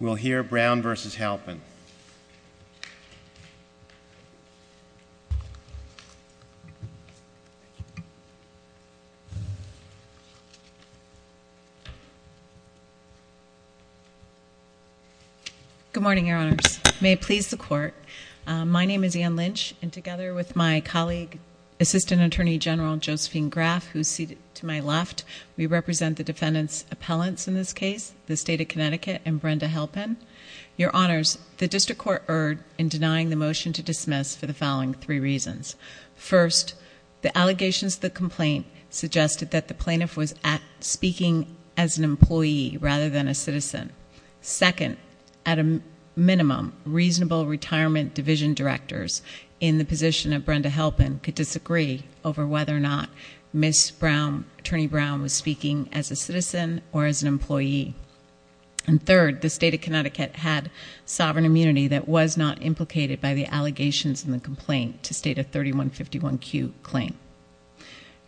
We'll hear Brown v. Halpin. Good morning, Your Honors. May it please the Court, my name is Ann Lynch and together with my colleague, Assistant Attorney General Josephine Graf, who is seated to my left, we represent the defendant's appellants in this case, the State of Connecticut, and Brenda Halpin. Your Honors, the District Court erred in denying the motion to dismiss for the following three reasons. First, the allegations of the complaint suggested that the plaintiff was speaking as an employee rather than a citizen. Second, at a minimum, reasonable retirement division directors in the position of Brenda Halpin could disagree over whether or not Attorney Brown was speaking as a citizen or as an employee. And third, the State of Connecticut had sovereign immunity that was not implicated by the allegations in the complaint to state a 3151Q claim.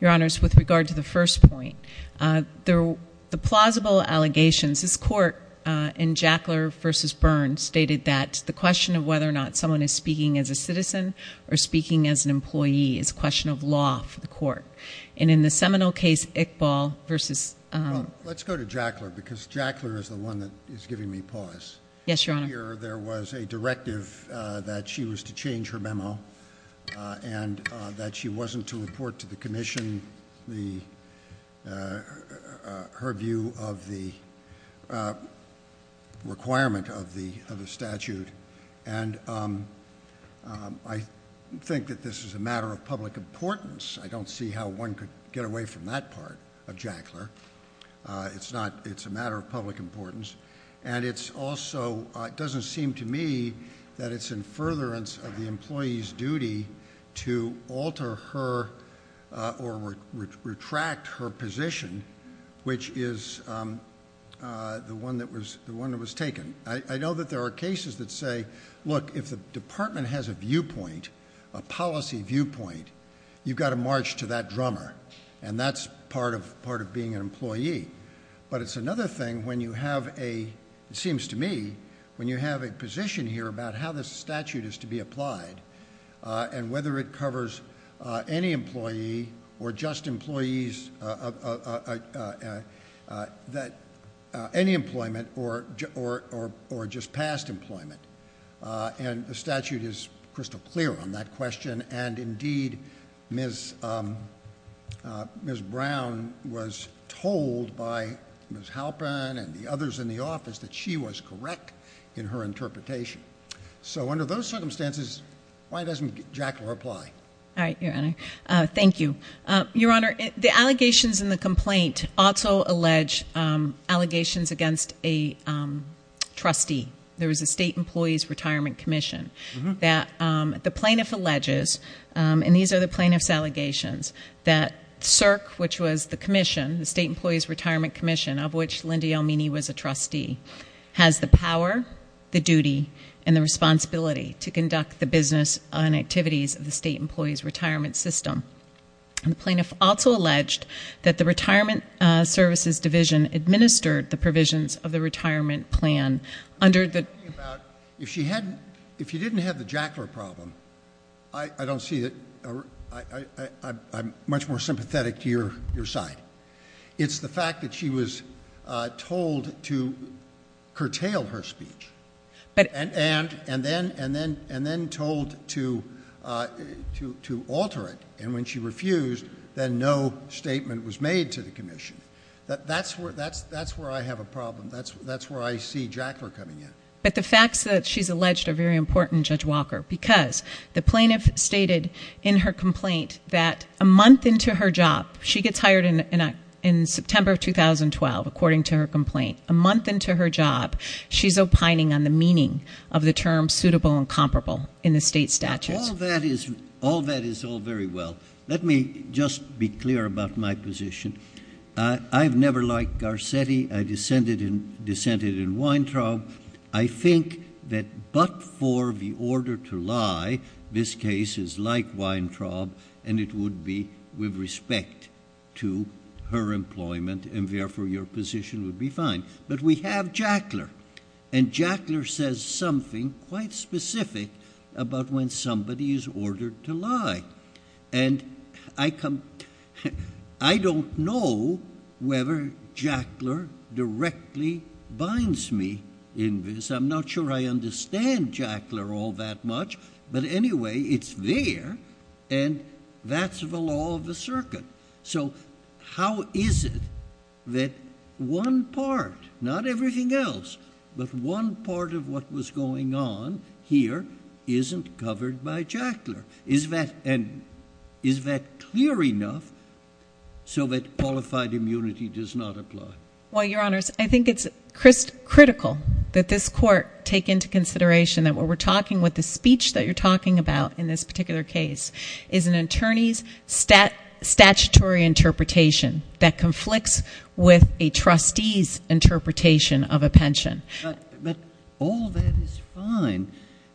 Your Honors, with regard to the first point, the plausible allegations, this Court in Jackler v. Byrne stated that the question of whether or not someone is speaking as a citizen or speaking as an employee is a question of law for the Court. And in the Seminole case, Iqbal versus... Let's go to Jackler because Jackler is the one that is giving me pause. Yes, Your Honor. There was a directive that she was to change her memo and that she wasn't to report to the commission her view of the requirement of the statute. And I think that this is a matter of public importance. I don't see how one could get away from that part of Jackler. It's not... It's a matter of public importance. And it's also... It doesn't seem to me that it's in furtherance of the employee's duty to alter her or retract her position, which is the one that was taken. I know that there are cases that say, look, if the department has a viewpoint, a policy viewpoint, you've got to march to that drummer. And that's part of being an employee. But it's another thing when you have a... It seems to me when you have a position here about how the statute is to be applied and whether it covers any employee or just employees... Any employment or just past employment. And the statute is crystal clear on that question. And indeed, Ms Brown was told by Ms Halpin and the others in the office that she was correct in her interpretation. So under those circumstances, why doesn't Jackler apply? All right, Your Honour. Thank you. Your Honour, the allegations in the complaint also allege allegations against a trustee. There was a State Employees Retirement Commission that the plaintiff alleges, and these are the plaintiff's allegations, that CERC, which was the commission, the State Employees Retirement Commission, of which Lindy Elmini was a trustee, has the power, the duty and the responsibility to conduct the business and activities of the State Employees Retirement System. And the plaintiff also alleged that the Retirement Services Division administered the provisions of the retirement plan under the... I'm talking about, if she didn't have the Jackler problem, I don't see that... I'm much more sympathetic to your side. It's the fact that she was told to curtail her speech. And then told to alter it. And when she refused, then no statement was made to the commission. That's where I have a problem. That's where I see Jackler coming in. But the facts that she's alleged are very important, Judge Walker, because the plaintiff stated in her complaint that a month into her job, she gets hired in September of 2012, according to her complaint. A month into her job, she's opining on the meaning of the term suitable and comparable in the state statutes. All that is all very well. Let me just be clear about my position. I've never liked Garcetti. I dissented in Weintraub. I think that but for the order to lie, this case is like Weintraub, and it would be with respect to her employment, and therefore your position would be fine. But we have Jackler. And Jackler says something quite specific about when somebody is ordered to lie. And I come... ..directly binds me in this. I'm not sure I understand Jackler all that much, but anyway, it's there, and that's the law of the circuit. So how is it that one part, not everything else, but one part of what was going on here isn't covered by Jackler? Is that... Is that clear enough so that qualified immunity does not apply? Well, Your Honours, I think it's critical that this Court take into consideration that what we're talking, what the speech that you're talking about in this particular case is an attorney's statutory interpretation that conflicts with a trustee's interpretation of a pension. But all that is fine.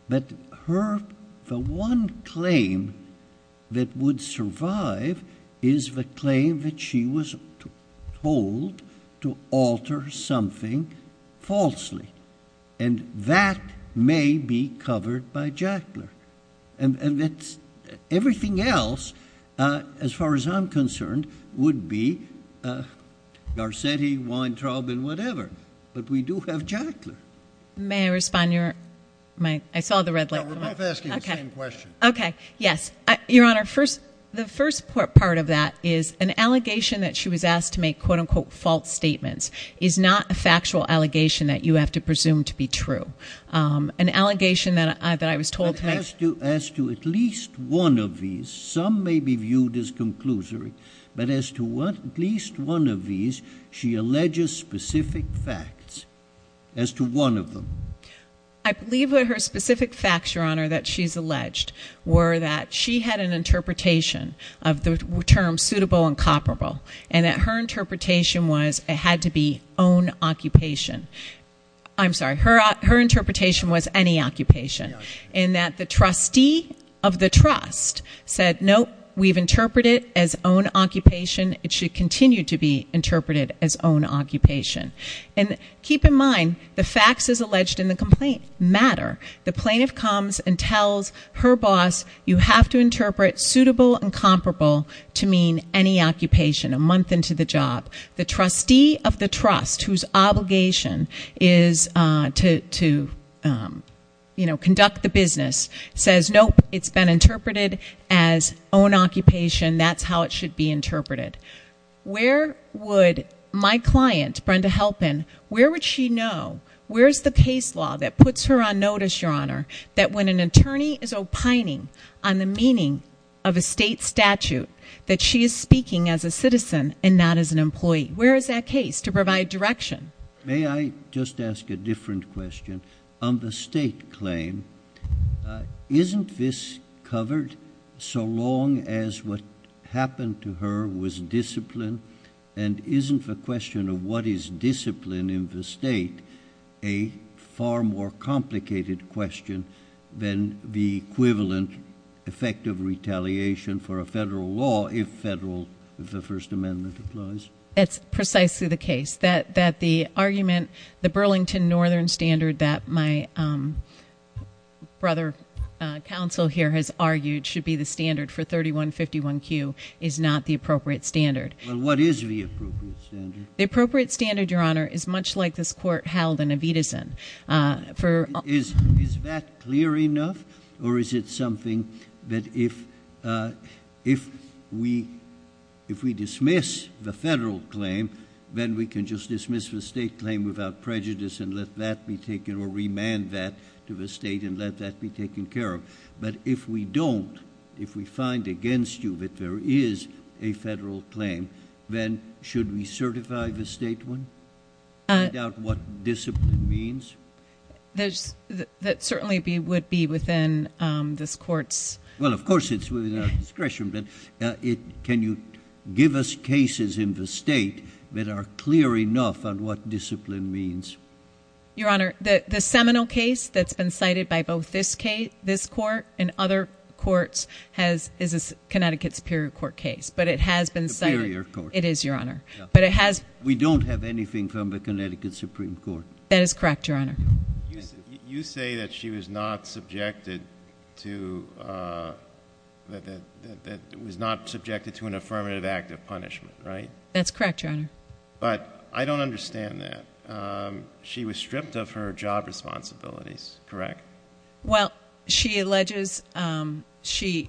But her... The one claim that would survive is the claim that she was told to alter something falsely. And that may be covered by Jackler. And everything else, as far as I'm concerned, would be Garcetti, Weintraub and whatever. But we do have Jackler. May I respond? I saw the red light. We're both asking the same question. OK, yes. Your Honour, the first part of that is an allegation that she was asked to make, quote-unquote, false statements is not a factual allegation that you have to presume to be true. An allegation that I was told to make... But as to at least one of these, some may be viewed as conclusory, but as to at least one of these, she alleges specific facts. As to one of them. I believe that her specific facts, Your Honour, that she's alleged were that she had an interpretation of the term suitable and comparable. And that her interpretation was it had to be own occupation. I'm sorry, her interpretation was any occupation. And that the trustee of the trust said, nope, we've interpreted it as own occupation. It should continue to be interpreted as own occupation. And keep in mind, the facts as alleged in the complaint matter. The plaintiff comes and tells her boss, you have to interpret suitable and comparable to mean any occupation a month into the job. The trustee of the trust, whose obligation is to, you know, conduct the business says, nope, it's been interpreted as own occupation. That's how it should be interpreted. Where would my client, Brenda Halpin, where would she know? Where's the case law that puts her on notice, Your Honour, that when an attorney is opining on the meaning of a state statute, that she is speaking as a citizen and not as an employee? Where is that case to provide direction? May I just ask a different question? On the state claim, isn't this covered so long as what happened to her was discipline? And isn't the question of what is discipline in the state a far more complicated question than the equivalent effect of retaliation for a federal law if the First Amendment applies? It's precisely the case that the argument, the Burlington Northern Standard that my brother council here has argued should be the standard for 3151Q is not the appropriate standard. Well, what is the appropriate standard? The appropriate standard, Your Honour, is much like this court held in Evitazin. Is that clear enough, or is it something that if we dismiss the federal claim, then we can just dismiss the state claim without prejudice and let that be taken or remand that to the state and let that be taken care of. But if we don't, if we find against you that there is a federal claim, then should we certify the state one, find out what discipline means? That certainly would be within this court's- Well, of course it's within our discretion, but can you give us cases in the state that are clear enough on what discipline means? Your Honour, the seminal case that's been cited by both this court and other courts is the Connecticut Superior Court case, but it has been cited- Superior Court. It is, Your Honour. But it has- We don't have anything from the Connecticut Supreme Court. That is correct, Your Honour. You say that she was not subjected to an affirmative act of punishment, right? That's correct, Your Honour. But I don't understand that. She was stripped of her job responsibilities, correct? Well, she alleges she,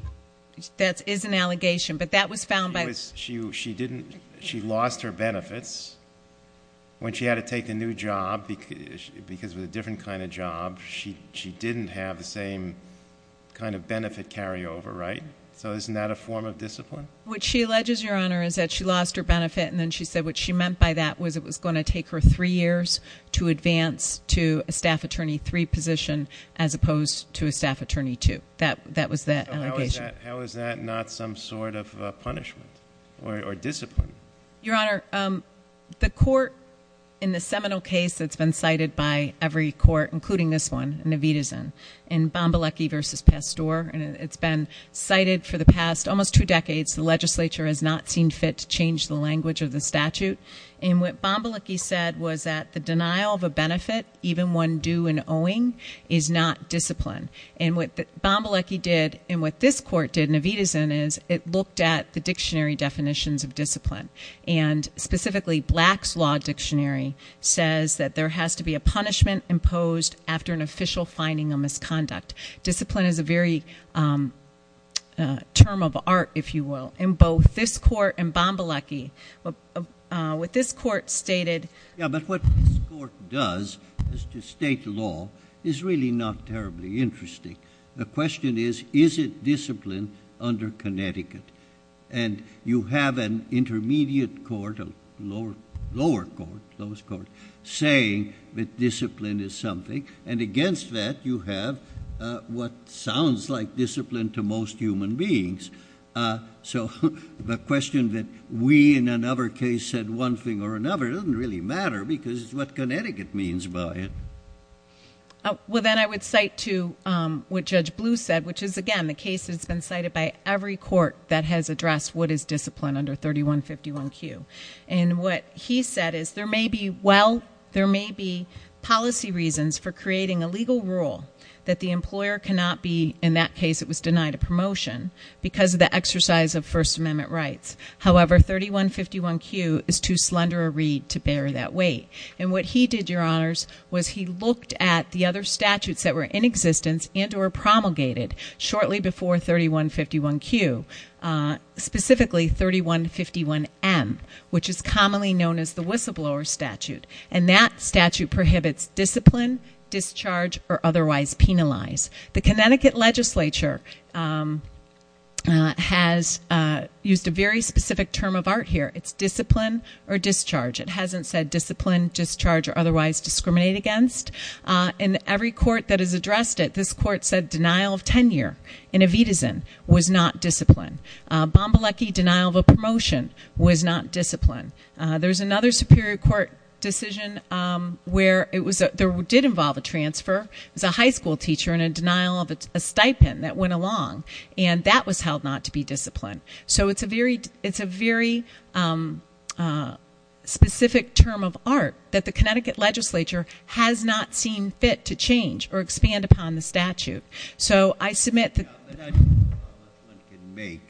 that is an allegation, but that was found by- She didn't, she lost her benefits when she had to take a new job because of a different kind of job, she didn't have the same kind of benefit carryover, right? So isn't that a form of discipline? What she alleges, Your Honour, is that she lost her benefit and she said what she meant by that was it was going to take her three years to advance to a staff attorney three position, as opposed to a staff attorney two, that was that allegation. How is that not some sort of punishment or discipline? Your Honour, the court in the seminal case that's been cited by every court, including this one, in Evitazen, in Bombalecki versus Pastor, and it's been cited for the past almost two decades. The legislature has not seen fit to change the language of the statute. And what Bombalecki said was that the denial of a benefit, even one due and owing, is not discipline. And what Bombalecki did, and what this court did in Evitazen, is it looked at the dictionary definitions of discipline. And specifically, Black's Law Dictionary says that there has to be a punishment imposed after an official finding of misconduct. Discipline is a very term of art, if you will, in both this court and Bombalecki. What this court stated- Yeah, but what this court does, as to state law, is really not terribly interesting. The question is, is it discipline under Connecticut? And you have an intermediate court, a lower court, lowest court, saying that discipline is something, and against that you have what sounds like discipline to most human beings. So the question that we, in another case, said one thing or another doesn't really matter, because it's what Connecticut means by it. Well, then I would cite to what Judge Blue said, which is, again, the case that's been cited by every court that has addressed what is discipline under 3151Q. And what he said is, there may be policy reasons for creating a legal rule that the employer cannot be, in that case it was denied a promotion, because of the exercise of First Amendment rights. However, 3151Q is too slender a read to bear that weight. And what he did, your honors, was he looked at the other statutes that were in existence and that were promulgated shortly before 3151Q, specifically 3151M, which is commonly known as the whistleblower statute. And that statute prohibits discipline, discharge, or otherwise penalize. The Connecticut legislature has used a very specific term of art here. It's discipline or discharge. It hasn't said discipline, discharge, or otherwise discriminate against. In every court that has addressed it, this court said denial of tenure in Evitazin was not discipline. Bombalecki, denial of a promotion was not discipline. There's another superior court decision where it did involve a transfer. It was a high school teacher and a denial of a stipend that went along. And that was held not to be discipline. So it's a very specific term of art that the Connecticut legislature has not seen fit to change or expand upon the statute. So I submit that- I don't know how much one can make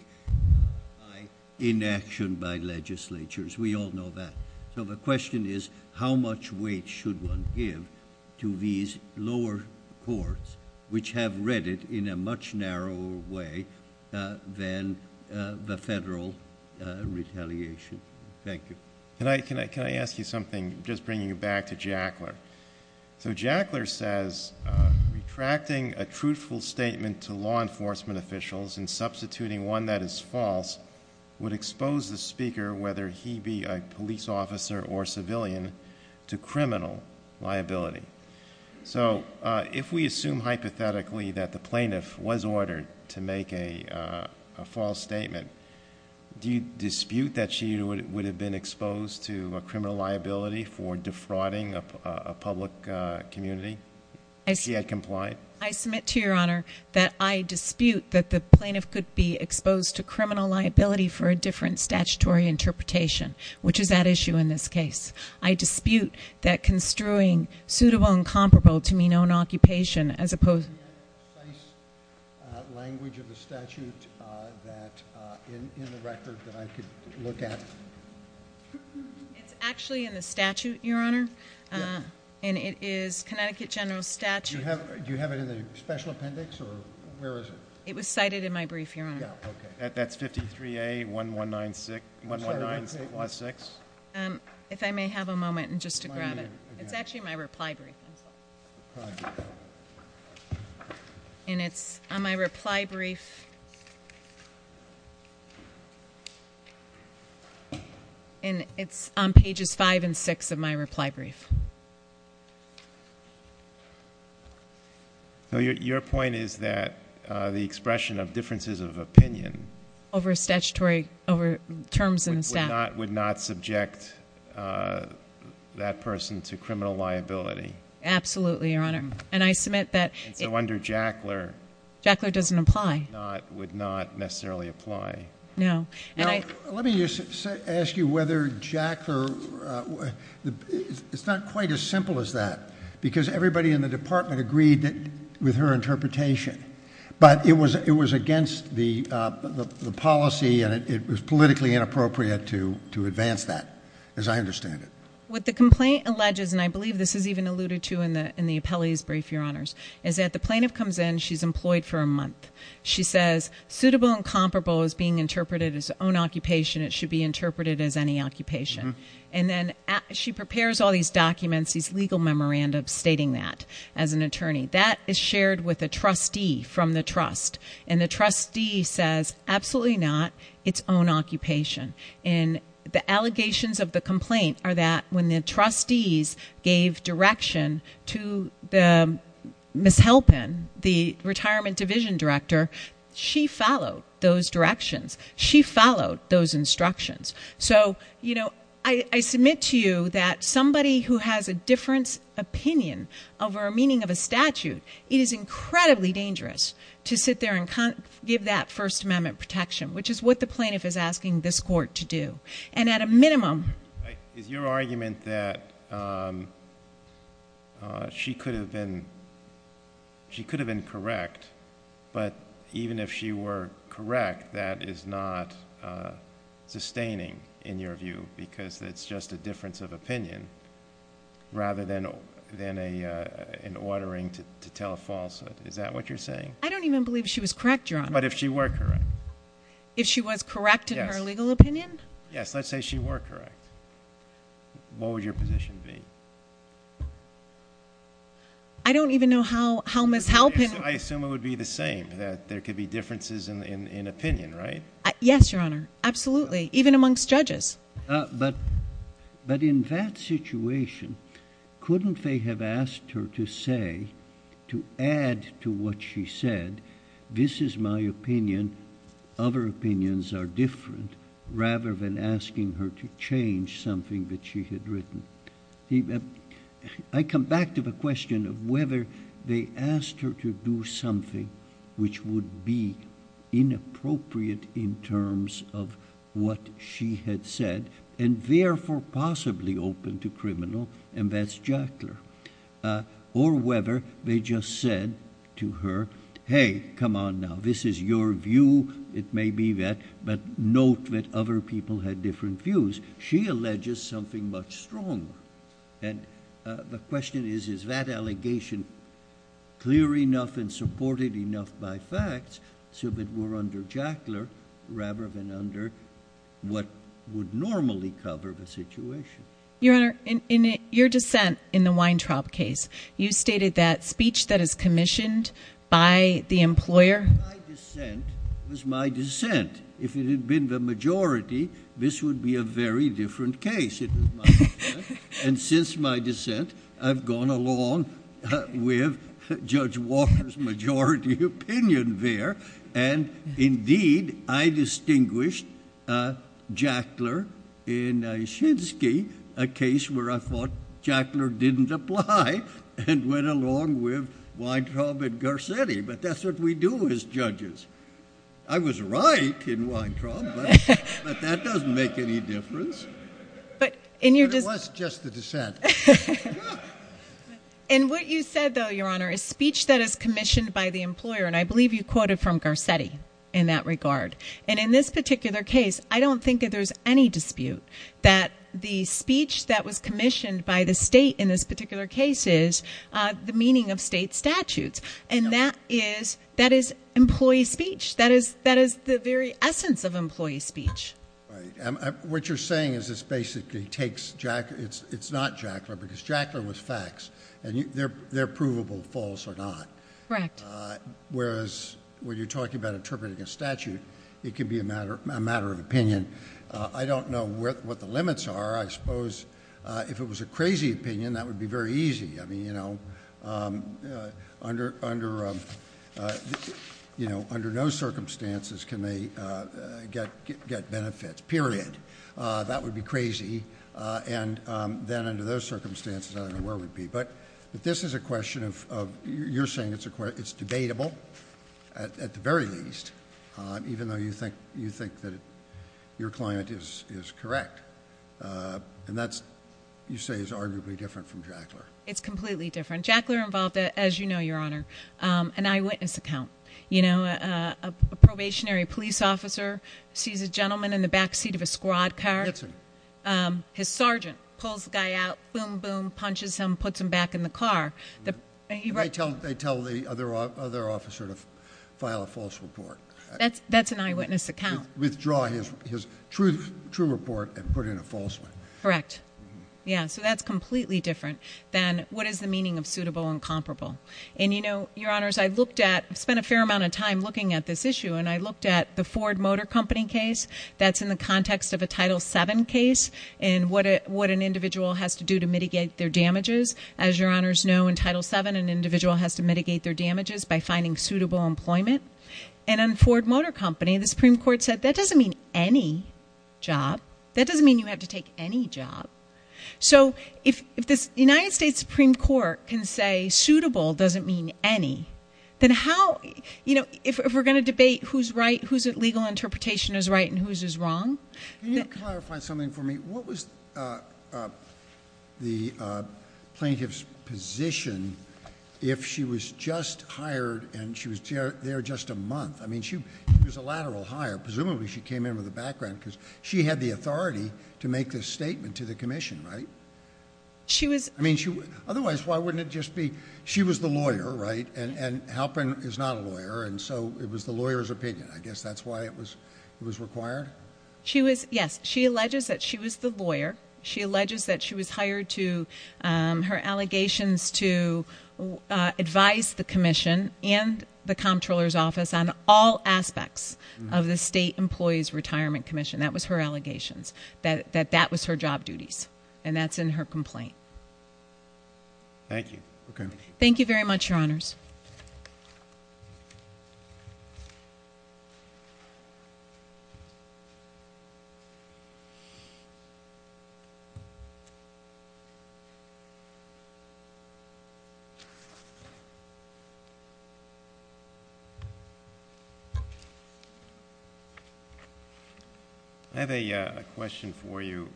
by inaction by legislatures. We all know that. So the question is, how much weight should one give to these lower courts, which have read it in a much narrower way than the federal retaliation? Thank you. Can I ask you something, just bringing you back to Jackler? So Jackler says, retracting a truthful statement to law enforcement officials and substituting one that is false would expose the speaker, whether he be a police officer or civilian, to criminal liability. So if we assume hypothetically that the plaintiff was ordered to make a false statement, do you dispute that she would have been exposed to a criminal liability for defrauding a public community if he had complied? I submit to your honor that I dispute that the plaintiff could be exposed to criminal liability for a different statutory interpretation, which is at issue in this case. I dispute that construing suitable and comparable to mean own occupation as opposed- Is there any precise language of the statute that in the record that I could look at? It's actually in the statute, your honor. And it is Connecticut General Statute. Do you have it in the special appendix or where is it? It was cited in my brief, your honor. That's 53A1196, 119 plus six. If I may have a moment just to grab it. It's actually in my reply brief. And it's on my reply brief. And it's on pages five and six of my reply brief. So your point is that the expression of differences of opinion. Over statutory, over terms in the statute. Would not subject that person to criminal liability. Absolutely, your honor. And I submit that- It's no wonder Jackler- Jackler doesn't apply. Would not necessarily apply. No. Let me just ask you whether Jackler, it's not quite as simple as that. Because everybody in the department agreed with her interpretation. But it was against the policy and it was politically inappropriate to advance that, as I understand it. What the complaint alleges, and I believe this is even alluded to in the appellee's brief, your honors. Is that the plaintiff comes in, she's employed for a month. She says, suitable and comparable is being interpreted as own occupation. It should be interpreted as any occupation. And then she prepares all these documents, these legal memorandums stating that as an attorney. That is shared with a trustee from the trust. And the trustee says, absolutely not, it's own occupation. And the allegations of the complaint are that when the trustees gave direction to the Ms. Halpin, the retirement division director, she followed those directions. She followed those instructions. So I submit to you that somebody who has a different opinion over a meaning of a statute, it is incredibly dangerous to sit there and give that First Amendment protection. Which is what the plaintiff is asking this court to do. And at a minimum. Is your argument that she could have been correct, but even if she were correct, that is not sustaining, in your view, because it's just a difference of opinion, rather than an ordering to tell a falsehood. Is that what you're saying? I don't even believe she was correct, your honor. But if she were correct? If she was correct in her legal opinion? Yes, let's say she were correct. What would your position be? I don't even know how Ms. Halpin- I assume it would be the same, that there could be differences in opinion, right? Yes, your honor, absolutely, even amongst judges. But in that situation, couldn't they have asked her to say, to add to what she said, this is my opinion, other opinions are different, rather than asking her to change something that she had written. I come back to the question of whether they asked her to do something which would be inappropriate in terms of what she had said, and therefore possibly open to criminal, and that's Jackler. Or whether they just said to her, hey, come on now, this is your view, it may be that, but note that other people had different views. She alleges something much stronger. And the question is, is that allegation clear enough and supported enough by facts, so that we're under Jackler, rather than under what would normally cover the situation? Your honor, in your dissent in the Weintraub case, you stated that speech that is commissioned by the employer- My dissent was my dissent. If it had been the majority, this would be a very different case. It was my dissent. And since my dissent, I've gone along with Judge Walker's majority opinion there. And indeed, I distinguished Jackler in Shinsky, a case where I thought Jackler didn't apply, and went along with Weintraub and Garcetti. But that's what we do as judges. I was right in Weintraub, but that doesn't make any difference. But in your- It was just the dissent. And what you said, though, your honor, is speech that is commissioned by the employer, and I believe you quoted from Garcetti in that regard. And in this particular case, I don't think that there's any dispute that the speech that was commissioned by the state in this particular case is the meaning of state statutes. And that is employee speech. That is the very essence of employee speech. What you're saying is this basically takes Jack- It's not Jackler, because Jackler was facts. And they're provable, false or not. Correct. Whereas when you're talking about interpreting a statute, it can be a matter of opinion. I don't know what the limits are. I suppose if it was a crazy opinion, that would be very easy. I mean, under no circumstances can they get benefits, period. That would be crazy. And then under those circumstances, I don't know where we'd be. But this is a question of, you're saying it's debatable at the very least, even though you think that your client is correct. And that, you say, is arguably different from Jackler. It's completely different. Jackler involved, as you know, your honor, an eyewitness account. You know, a probationary police officer sees a gentleman in the backseat of a squad car. His sergeant pulls the guy out, boom, boom, punches him, puts him back in the car. They tell the other officer to file a false report. That's an eyewitness account. Withdraw his true report and put in a false one. Correct. Yeah, so that's completely different than what is the meaning of suitable and comparable. And you know, your honors, I've spent a fair amount of time looking at this issue. And I looked at the Ford Motor Company case. That's in the context of a Title VII case. And what an individual has to do to mitigate their damages. As your honors know, in Title VII, an individual has to mitigate their damages by finding suitable employment. And on Ford Motor Company, the Supreme Court said that doesn't mean any job. That doesn't mean you have to take any job. So if the United States Supreme Court can say suitable doesn't mean any, then how, you know, if we're going to debate who's right, who's legal interpretation is right and who's is wrong. Can you clarify something for me? What was the plaintiff's position if she was just hired and she was there just a month? I mean, she was a lateral hire. Presumably, she came in with a background because she had the authority to make this statement to the commission, right? I mean, otherwise, why wouldn't it just be she was the lawyer, right? And Halpin is not a lawyer. And so it was the lawyer's opinion. I guess that's why it was required. She was, yes, she alleges that she was the lawyer. She alleges that she was hired to her allegations to advise the commission and the comptroller's office on all aspects of the State Employees Retirement Commission. That was her allegations that that was her job duties. And that's in her complaint. Thank you. Okay. Thank you very much, Your Honors. I have a question for you.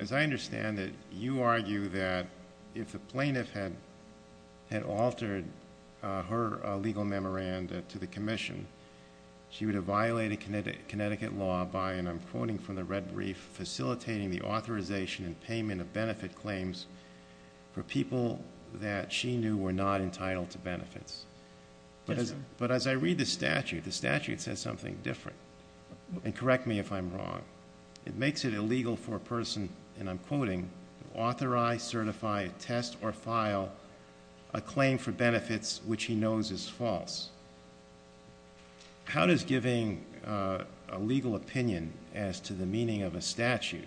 As I understand it, you argue that if the plaintiff had altered her legal memoranda to the commission, she would have violated Connecticut law by, and I'm quoting from the red brief, facilitating the authorization and payment of benefit claims for people that she knew were not entitled to benefits. But as I read the statute, the statute says something different. And correct me if I'm wrong. It makes it illegal for a person, and I'm quoting, authorize, certify, test, or file a claim for benefits which he knows is false. How does giving a legal opinion as to the meaning of a statute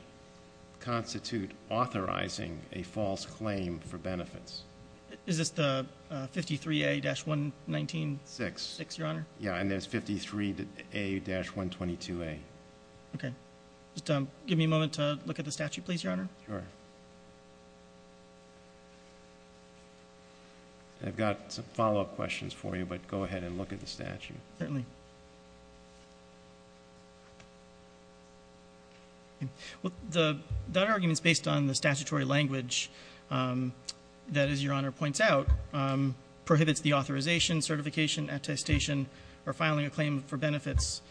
constitute authorizing a false claim for benefits? Is this the 53A-119-6, Your Honor? Yeah, and there's 53A-122A. Okay. Just give me a moment to look at the statute, please, Your Honor. Sure. I've got some follow-up questions for you, but go ahead and look at the statute. Certainly. Well, that argument's based on the statutory language that, as Your Honor points out, prohibits the authorization, certification, attestation, or filing a claim for benefits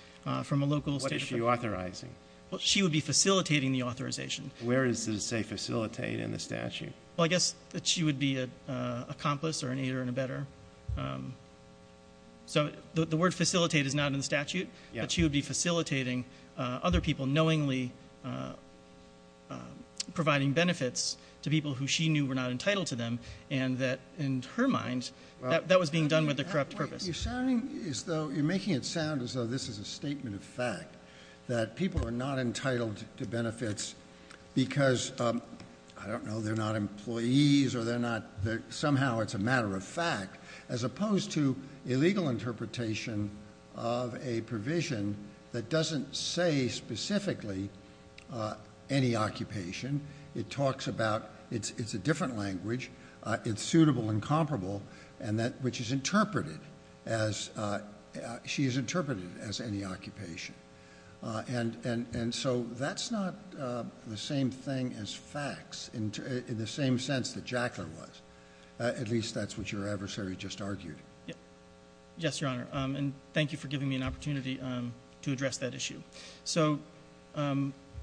from a local state. What is she authorizing? Well, she would be facilitating the authorization. Where does it say facilitate in the statute? Well, I guess that she would be an accomplice or an aider and abetter. So the word facilitate is not in the statute, but she would be facilitating other people, knowingly providing benefits to people who she knew were not entitled to them, and that, in her mind, that was being done with a corrupt purpose. That people are not entitled to benefits because, I don't know, they're not employees or somehow it's a matter of fact, as opposed to a legal interpretation of a provision that doesn't say specifically any occupation. It talks about it's a different language. It's suitable and comparable, which she has interpreted as any occupation. And so that's not the same thing as facts in the same sense that Jackler was. At least that's what your adversary just argued. Yes, Your Honor. And thank you for giving me an opportunity to address that issue. So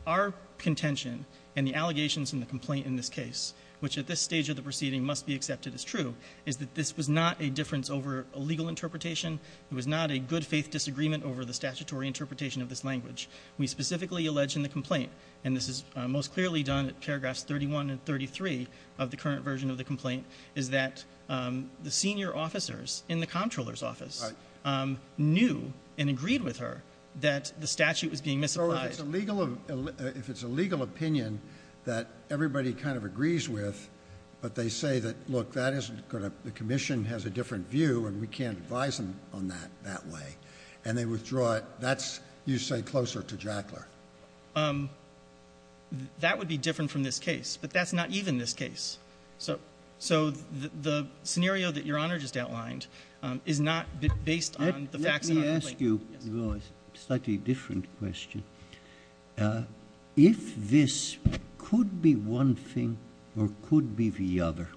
our contention and the allegations in the complaint in this case, which at this stage of the proceeding must be accepted as true, is that this was not a difference over a legal interpretation. It was not a good faith disagreement over the statutory interpretation of this language. We specifically allege in the complaint, and this is most clearly done at paragraphs 31 and 33 of the current version of the complaint, is that the senior officers in the comptroller's office knew and agreed with her that the statute was being misapplied. So if it's a legal opinion that everybody kind of agrees with, but they say that, look, the commission has a different view and we can't advise them on that that way, and they withdraw it. You say closer to Jackler. That would be different from this case, but that's not even this case. So the scenario that Your Honor just outlined is not based on the facts. Let me ask you a slightly different question. If this could be one thing or could be the other,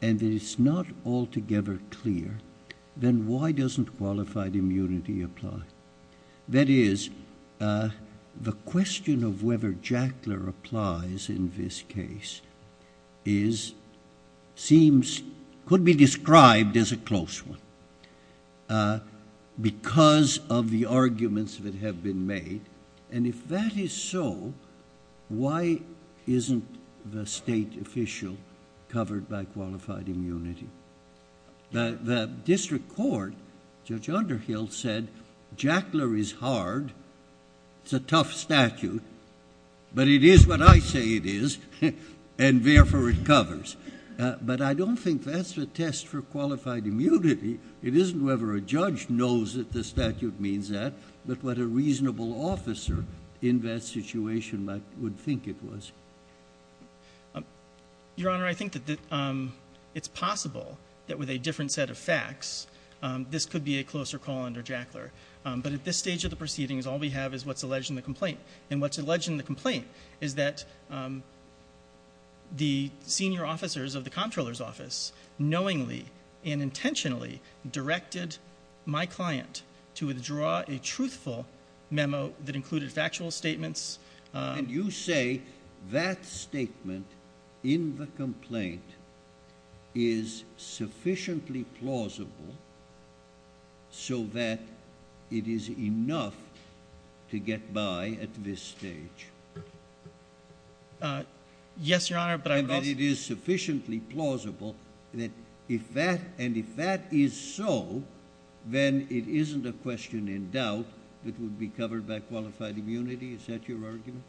and it's not altogether clear, then why doesn't qualified immunity apply? That is, the question of whether Jackler applies in this case is, seems, could be described as a close one because of the arguments that have been made. And if that is so, why isn't the state official covered by qualified immunity? The district court, Judge Underhill said, Jackler is hard. It's a tough statute, but it is what I say it is, and therefore it covers. But I don't think that's the test for qualified immunity. It isn't whether a judge knows that the statute means that, but what a reasonable officer in that situation would think it was. Your Honor, I think that it's possible that with a different set of facts, this could be a closer call under Jackler. But at this stage of the proceedings, all we have is what's alleged in the complaint. And what's alleged in the complaint is that the senior officers of the comptroller's office knowingly and intentionally directed my client to withdraw a truthful memo that included factual statements. And you say that statement in the complaint is sufficiently plausible so that it is enough to get by at this stage? Yes, Your Honor. And that it is sufficiently plausible that if that, and if that is so, then it isn't a question in doubt that would be covered by qualified immunity? Is that your argument?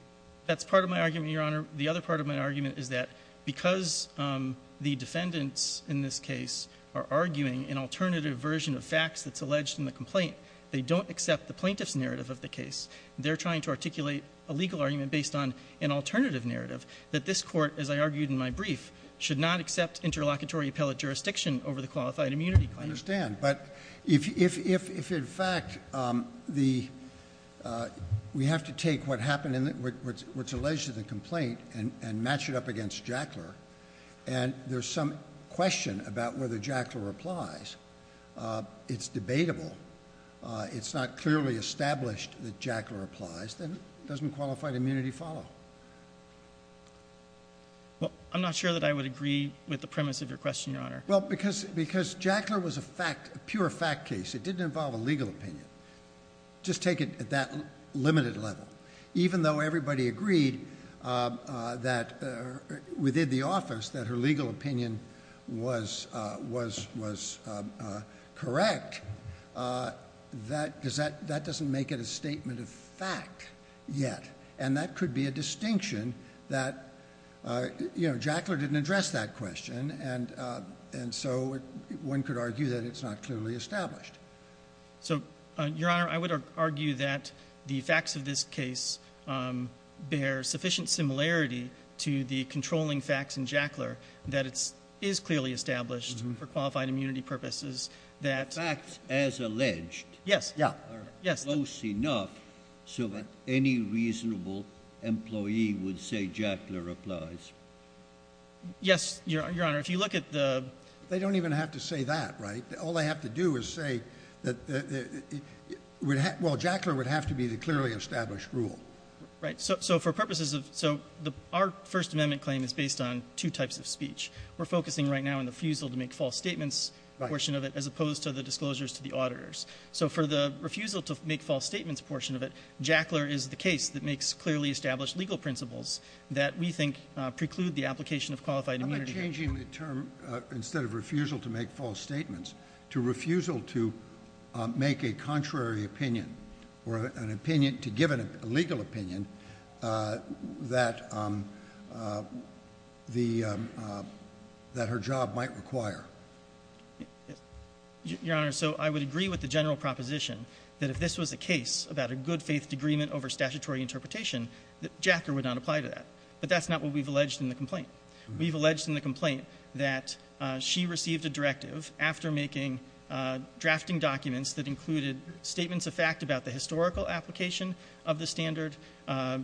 That's part of my argument, Your Honor. The other part of my argument is that because the defendants in this case are arguing an alternative version of facts that's alleged in the complaint, they don't accept the plaintiff's narrative of the case. They're trying to articulate a legal argument based on an alternative narrative that this court, as I argued in my brief, should not accept interlocutory appellate jurisdiction over the qualified immunity claim. I understand. But if in fact we have to take what happened in what's alleged in the complaint and match it up against Jackler and there's some question about whether Jackler applies, it's debatable, it's not clearly established that Jackler applies, then doesn't qualified immunity follow? Well, I'm not sure that I would agree with the premise of your question, Your Honor. Well, because Jackler was a pure fact case. It didn't involve a legal opinion. Just take it at that limited level. Even though everybody agreed that within the office that her legal opinion was correct, that doesn't make it a statement of fact yet. And that could be a distinction that, you know, Jackler didn't address that question and so one could argue that it's not clearly established. So, Your Honor, I would argue that the facts of this case bear sufficient similarity to the controlling facts in Jackler that it is clearly established for qualified immunity purposes that... Facts as alleged are close enough so that any reasonable employee would say Jackler applies. Yes, Your Honor. If you look at the... They don't even have to say that, right? All they have to do is say that... Well, Jackler would have to be the clearly established rule. Right, so for purposes of... So our First Amendment claim is based on two types of speech. We're focusing right now on the refusal to make false statements portion of it as opposed to the disclosures to the auditors. So for the refusal to make false statements portion of it, Jackler is the case that makes clearly established legal principles that we think preclude the application of qualified immunity... I'm changing the term instead of refusal to make false statements to refusal to make a contrary opinion or an opinion to give an illegal opinion that her job might require. Your Honor, so I would agree with the general proposition that if this was a case about a good faith agreement over statutory interpretation, Jackler would not apply to that. But that's not what we've alleged in the complaint. We've alleged in the complaint that she received a directive after making drafting documents that included statements of fact about the historical application of the standard,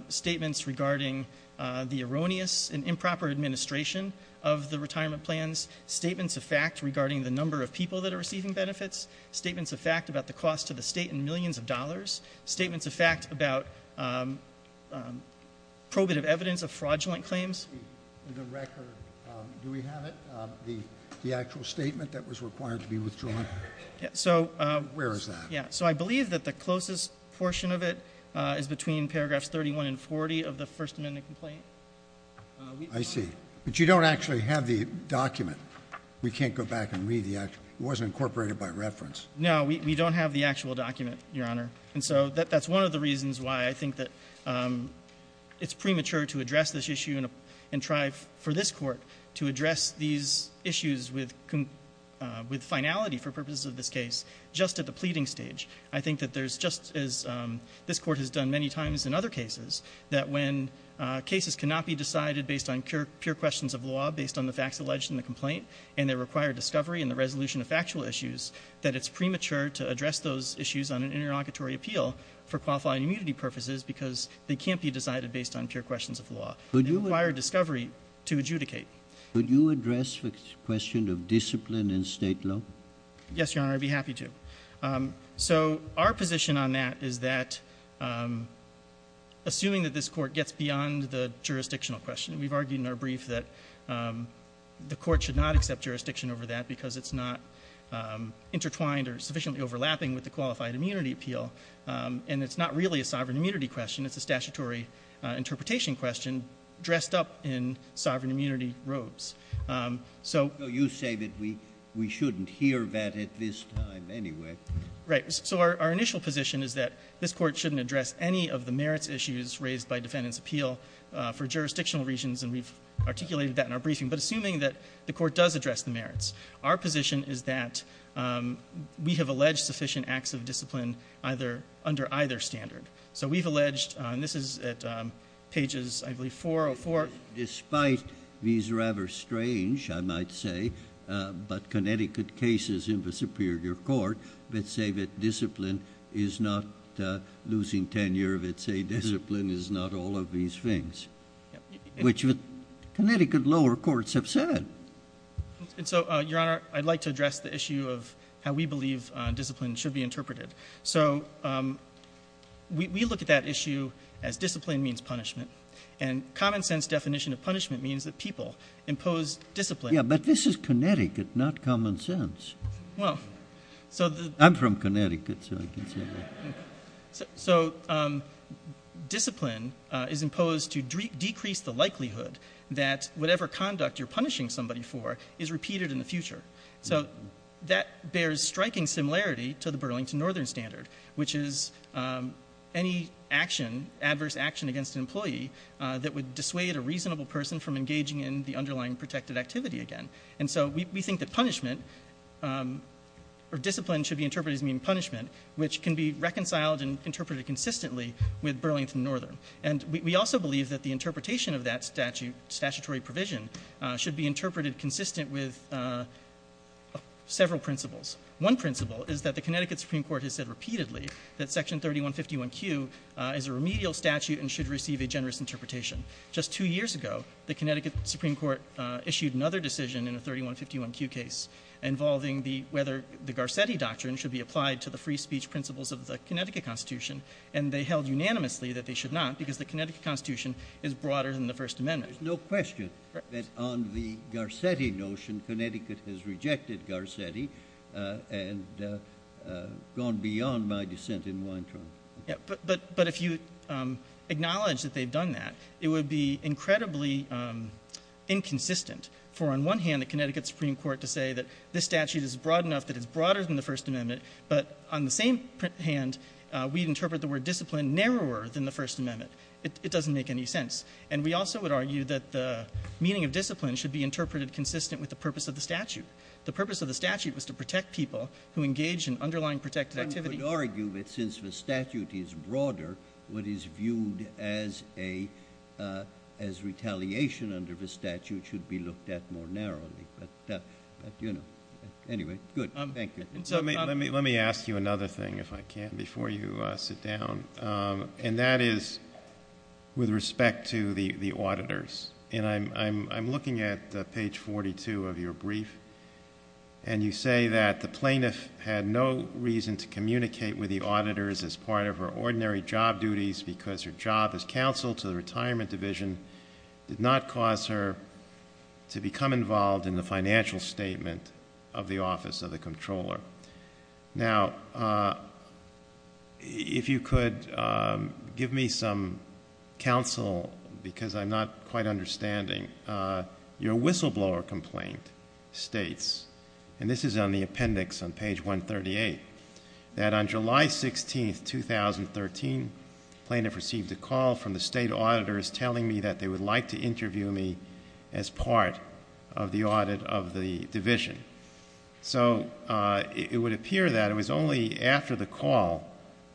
statements regarding the erroneous and improper administration of the retirement plans, statements of fact regarding the number of people that are receiving benefits, statements of fact about the cost to the state and millions of dollars, statements of fact about probative evidence of fraudulent claims. In the record, do we have it? The actual statement that was required to be withdrawn? So... Where is that? Yeah, so I believe that the closest portion of it is between paragraphs 31 and 40 of the First Amendment complaint. I see. But you don't actually have the document. We can't go back and read the actual... It wasn't incorporated by reference. No, we don't have the actual document, Your Honor. And so that's one of the reasons why I think that it's premature to address this issue and try for this court to address these issues with finality for purposes of this case just at the pleading stage. I think that there's just as this court has done many times in other cases, that when cases cannot be decided based on pure questions of law, based on the facts alleged in the complaint and they require discovery and the resolution of factual issues, that it's premature to address those issues on an interlocutory appeal for qualifying immunity purposes because they can't be decided based on pure questions of law. They require discovery to adjudicate. Would you address the question of discipline in state law? Yes, Your Honor, I'd be happy to. So our position on that is that assuming that this court gets beyond the jurisdictional question, we've argued in our brief that the court should not accept jurisdiction over that because it's not intertwined or sufficiently overlapping with the qualified immunity appeal and it's not really a sovereign immunity question, it's a statutory interpretation question dressed up in sovereign immunity robes. So you say that we shouldn't hear that at this time anyway. Right, so our initial position is that this court shouldn't address any of the merits issues raised by defendant's appeal for jurisdictional reasons and we've articulated that in our briefing, but assuming that the court does address the merits. Our position is that we have alleged sufficient acts of discipline under either standard. So we've alleged, and this is at pages, I believe, 404. Despite these rather strange, I might say, but Connecticut cases in the Superior Court that say that discipline is not losing tenure, that say discipline is not all of these things, which Connecticut lower courts have said. And so, Your Honor, I'd like to address the issue of how we believe discipline should be interpreted. So we look at that issue as discipline means punishment and common sense definition of punishment means that people impose discipline. Yeah, but this is Connecticut, not common sense. I'm from Connecticut, so I can say that. So discipline is imposed to decrease the likelihood that whatever conduct you're punishing somebody for is repeated in the future. So that bears striking similarity to the Burlington Northern Standard, which is any action, adverse action against an employee that would dissuade a reasonable person from engaging in the underlying protected activity again. And so we think that punishment or discipline should be interpreted as meaning punishment, which can be reconciled and interpreted consistently with Burlington Northern. And we also believe that the interpretation of that statutory provision should be interpreted consistent with several principles. One principle is that the Connecticut Supreme Court has said repeatedly that section 3151Q is a remedial statute and should receive a generous interpretation. Just two years ago, the Connecticut Supreme Court issued another decision in a 3151Q case involving whether the Garcetti Doctrine should be applied to the free speech principles of the Connecticut Constitution. And they held unanimously that they should not because the Connecticut Constitution is broader than the First Amendment. There's no question that on the Garcetti notion, Connecticut has rejected Garcetti and gone beyond my dissent in Weintraub. Yeah, but if you acknowledge that they've done that, it would be incredibly inconsistent for on one hand, the Connecticut Supreme Court to say that this statute is broad enough that it's broader than the First Amendment. But on the same hand, we'd interpret the word discipline narrower than the First Amendment. It doesn't make any sense. And we also would argue that the meaning of discipline should be interpreted consistent with the purpose of the statute. The purpose of the statute was to protect people who engage in underlying protected activity. One would argue that since the statute is broader, what is viewed as retaliation under the statute should be looked at more narrowly. But anyway, good. Thank you. So let me ask you another thing if I can before you sit down. And that is with respect to the auditors. And I'm looking at page 42 of your brief. And you say that the plaintiff had no reason to communicate with the auditors as part of her ordinary job duties because her job as counsel to the retirement division did not cause her to become involved in the financial statement of the office of the comptroller. Now, if you could give me some counsel because I'm not quite understanding. Your whistleblower complaint states, and this is on the appendix on page 138, that on July 16, 2013, plaintiff received a call from the state auditors telling me that they would like to interview me as part of the audit of the division. So it would appear that it was only after the call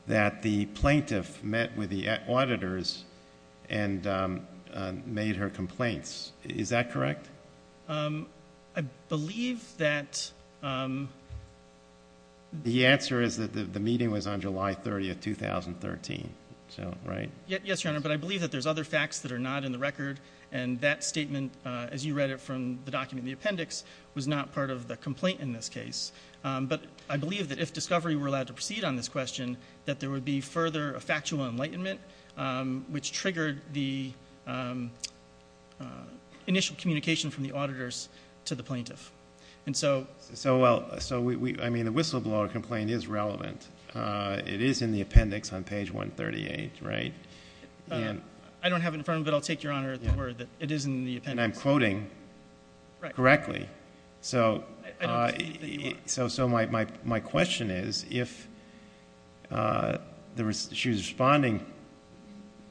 that the plaintiff met with the auditors and made her complaints. Is that correct? I believe that the answer is that the meeting was on July 30, 2013. Yes, Your Honor. But I believe that there's other facts that are not in the record. And that statement, as you read it from the document, the appendix was not part of the complaint in this case. But I believe that if Discovery were allowed to proceed on this question, that there would be further factual enlightenment which triggered the initial communication from the auditors to the plaintiff. And so... So, well, I mean, the whistleblower complaint is relevant. It is in the appendix on page 138, right? I don't have it in front of me, but I'll take Your Honor at the word that it is in the appendix. I'm quoting correctly. So my question is, if she was responding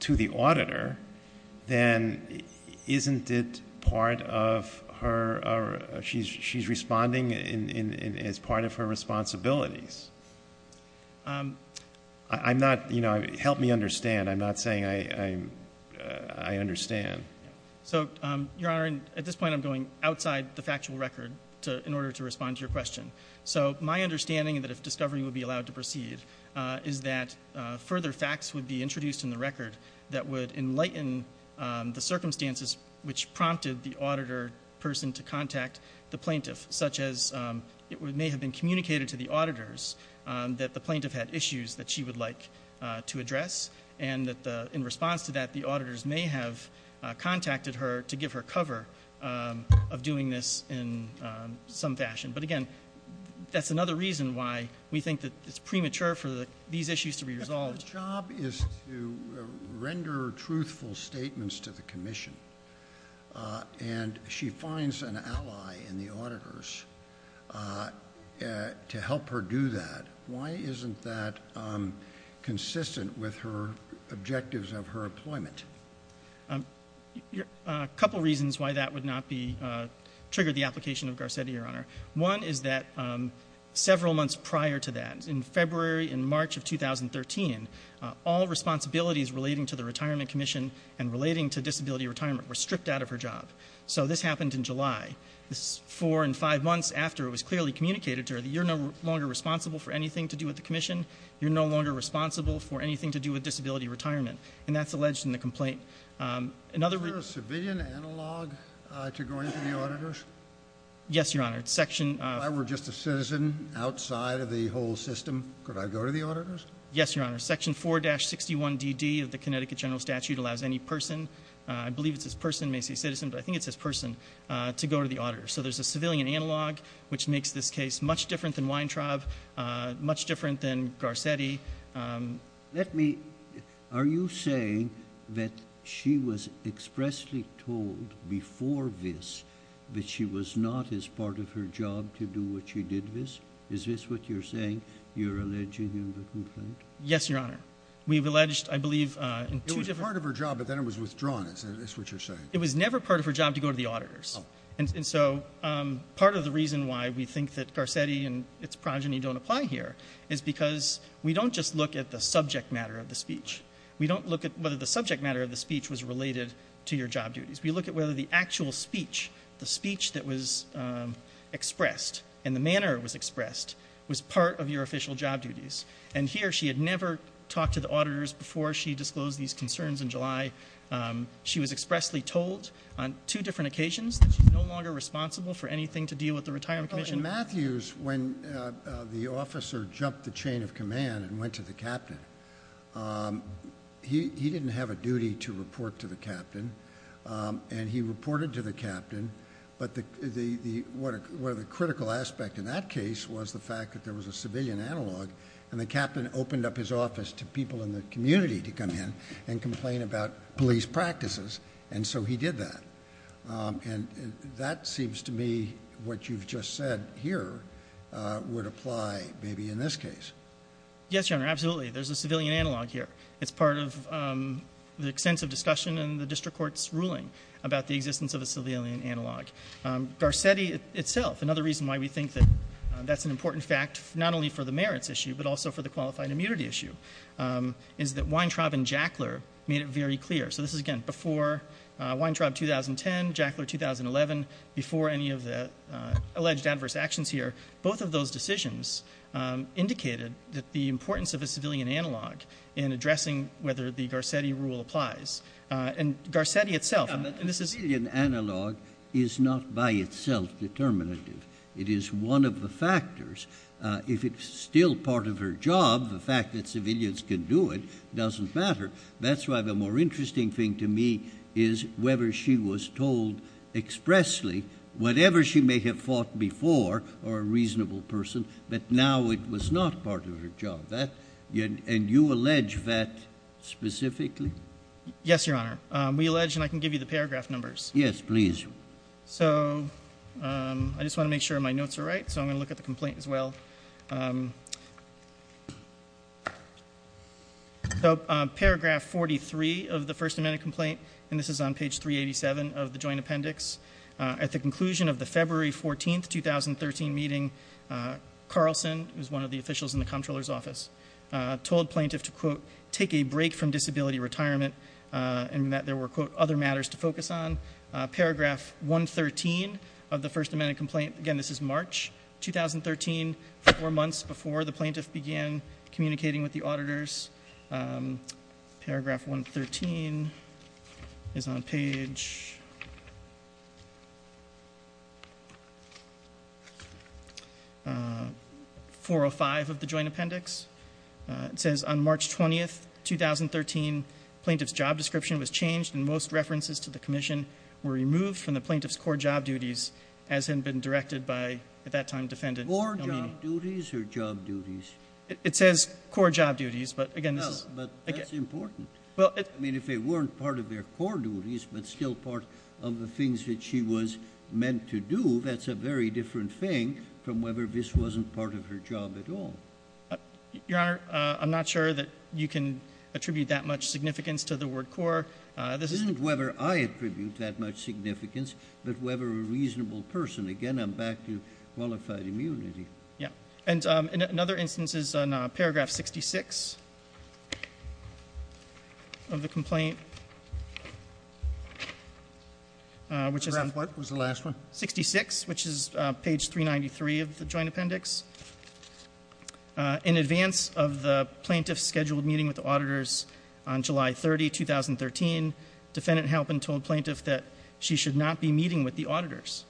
to the auditor, then isn't it part of her... She's responding as part of her responsibilities. Help me understand. I'm not saying I understand. So Your Honor, at this point, I'm going outside the factual record in order to respond to your question. So my understanding that if Discovery would be allowed to proceed, is that further facts would be introduced in the record that would enlighten the circumstances which prompted the auditor person to contact the plaintiff, such as it may have been communicated to the auditors that the plaintiff had issues that she would like to address. And that in response to that, the auditors may have contacted her to give her cover of doing this in some fashion. But again, that's another reason why we think that it's premature for these issues to be resolved. The job is to render truthful statements to the commission. And she finds an ally in the auditors to help her do that. Why isn't that consistent with her objectives of her employment? A couple of reasons why that would not be triggered the application of Garcetti, Your Honor. One is that several months prior to that, in February and March of 2013, all responsibilities relating to the Retirement Commission and relating to disability retirement were stripped out of her job. So this happened in July. This is four and five months after it was clearly communicated to her that you're no longer responsible for anything to do with the commission. You're no longer responsible for anything to do with disability retirement. And that's alleged in the complaint. Is there a civilian analog to going to the auditors? Yes, Your Honor. If I were just a citizen outside of the whole system, could I go to the auditors? Yes, Your Honor. Section 4-61DD of the Connecticut General Statute allows any person, I believe it's this person, Macy's Citizen, but I think it's this person, to go to the auditors. So there's a civilian analog, which makes this case much different than Weintraub, much different than Garcetti. Let me... Are you saying that she was expressly told before this that she was not as part of her job to do what she did this? Is this what you're saying? You're alleging in the complaint? Yes, Your Honor. We've alleged, I believe, in two different... It was part of her job, but then it was withdrawn. Is that what you're saying? It was never part of her job to go to the auditors. And so part of the reason why we think that Garcetti and its progeny don't apply here is because we don't just look at the subject matter of the speech. We don't look at whether the subject matter of the speech was related to your job duties. We look at whether the actual speech, the speech that was expressed and the manner it was expressed was part of your official job duties. And here she had never talked to the auditors before she disclosed these concerns in July. She was expressly told on two different occasions that she's no longer responsible for anything to deal with the Retirement Commission. In Matthews, when the officer jumped the chain of command and went to the captain, he didn't have a duty to report to the captain. And he reported to the captain. But one of the critical aspects in that case was the fact that there was a civilian analog and the captain opened up his office to people in the community to come in and complain about police practices. And so he did that. And that seems to me what you've just said here would apply maybe in this case. Yes, Your Honor, absolutely. There's a civilian analog here. It's part of the extensive discussion in the district court's ruling about the existence of a civilian analog. Garcetti itself, another reason why we think that that's an important fact, not only for the merits issue, but also for the qualified immunity issue, is that Weintraub and Jackler made it very clear. So this is, again, before Weintraub 2010, Jackler 2011, before any of the alleged adverse actions here. Both of those decisions indicated that the importance of a civilian analog in addressing whether the Garcetti rule applies. And Garcetti itself, and this is... The civilian analog is not by itself determinative. It is one of the factors. If it's still part of her job, the fact that civilians can do it doesn't matter. That's why the more interesting thing to me is whether she was told expressly whatever she may have thought before, or a reasonable person, that now it was not part of her job. And you allege that specifically? Yes, Your Honor. We allege, and I can give you the paragraph numbers. Yes, please. So I just want to make sure my notes are right. So I'm going to look at the complaint as well. So paragraph 43 of the First Amendment complaint, and this is on page 387 of the joint appendix. At the conclusion of the February 14, 2013 meeting, Carlson, who's one of the officials in the comptroller's office, told plaintiff to, quote, take a break from disability retirement, and that there were, quote, other matters to focus on. Paragraph 113 of the First Amendment complaint. Again, this is March 2013. Four months before the plaintiff began communicating with the auditors. Paragraph 113 is on page 405 of the joint appendix. It says, on March 20, 2013, plaintiff's job description was changed, and most references to the commission were removed from the plaintiff's core job duties, as had been directed by, at that time, defendant. More job duties or job duties? It says core job duties. But again, this is... But that's important. I mean, if they weren't part of their core duties, but still part of the things that she was meant to do, that's a very different thing from whether this wasn't part of her job at all. Your Honor, I'm not sure that you can attribute that much significance to the word core. This isn't whether I attribute that much significance, but whether a reasonable person. Again, I'm back to qualified immunity. Yeah. And another instance is on paragraph 66 of the complaint, which is... Paragraph what was the last one? 66, which is page 393 of the joint appendix. In advance of the plaintiff's scheduled meeting with the auditors on July 30, 2013, defendant Halpin told plaintiff that she should not be meeting with the auditors.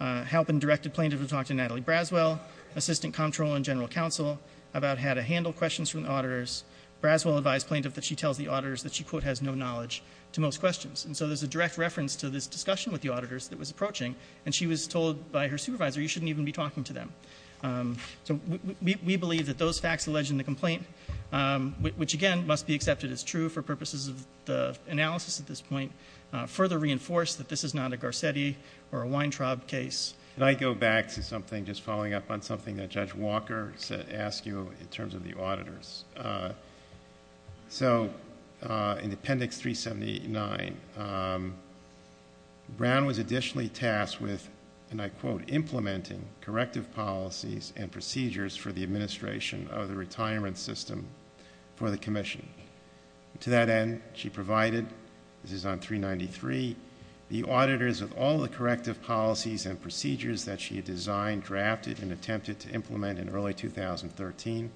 Halpin directed plaintiff to talk to Natalie Braswell, Assistant Comptroller and General Counsel about how to handle questions from the auditors. Braswell advised plaintiff that she tells the auditors that she, quote, has no knowledge to most questions. And so there's a direct reference to this discussion with the auditors that was approaching. And she was told by her supervisor, you shouldn't even be talking to them. So we believe that those facts alleged in the complaint, which again, must be accepted as true for purposes of the analysis at this point, further reinforce that this is not a Garcetti or a Weintraub case. And I go back to something, just following up on something that Judge Walker said, asked you in terms of the auditors. So in appendix 379, Brown was additionally tasked with, and I quote, implementing corrective policies and procedures for the administration of the retirement system for the commission. To that end, she provided, this is on 393, the auditors of all the corrective policies and procedures that she had designed, drafted and attempted to implement in early 2013,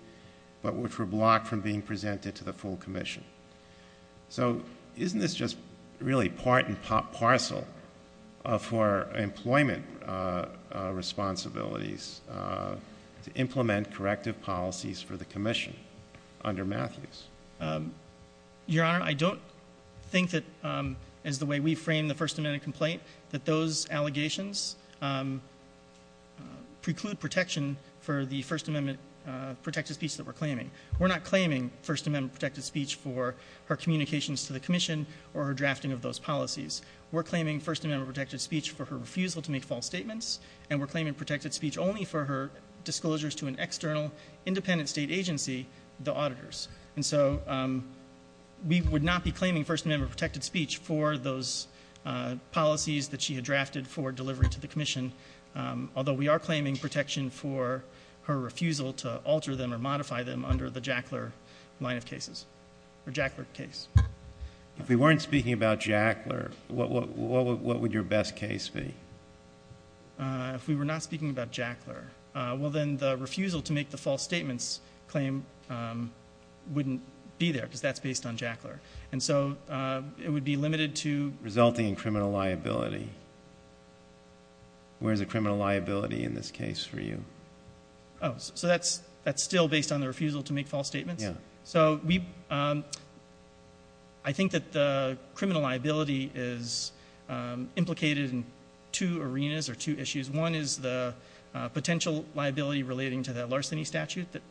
but which were blocked from being presented to the full commission. So isn't this just really part and parcel for employment responsibilities to implement corrective policies for the commission under Matthews? Your Honor, I don't think that, as the way we frame the First Amendment complaint, that those allegations preclude protection for the First Amendment protected speech that we're claiming. We're not claiming First Amendment protected speech for her communications to the commission or her drafting of those policies. We're claiming First Amendment protected speech for her refusal to make false statements and we're claiming protected speech only for her disclosures to an external, independent state agency, the auditors. And so we would not be claiming First Amendment protected speech for those policies that she had drafted for delivery to the commission, although we are claiming protection for her refusal to alter them or modify them under the Jackler line of cases or Jackler case. If we weren't speaking about Jackler, what would your best case be? If we were not speaking about Jackler, well then the refusal to make the false statements claim wouldn't be there because that's based on Jackler. And so it would be limited to... Resulting in criminal liability. Where's the criminal liability in this case for you? Oh, so that's still based on the refusal to make false statements? Yeah. So I think that the criminal liability is implicated in two arenas or two issues. One is the potential liability relating to that larceny statute that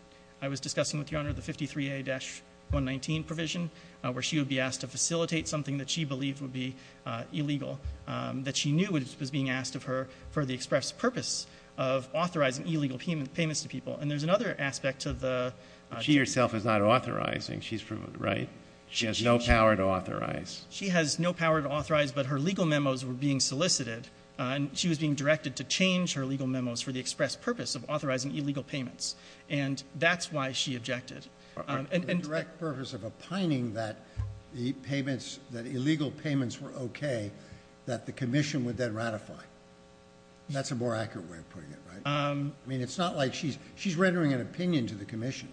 I was discussing with Your Honor, the 53A-119 provision, where she would be asked to facilitate something that she believed would be illegal, that she knew was being asked of her for the express purpose of authorizing illegal payments to people. And there's another aspect to the... She herself is not authorizing. She's proven right. She has no power to authorize. She has no power to authorize, but her legal memos were being solicited and she was being directed to change her legal memos for the express purpose of authorizing illegal payments. And that's why she objected. For the direct purpose of opining that the payments, that illegal payments were okay, that the commission would then ratify. That's a more accurate way of putting it, right? I mean, it's not like she's... She's rendering an opinion to the commission.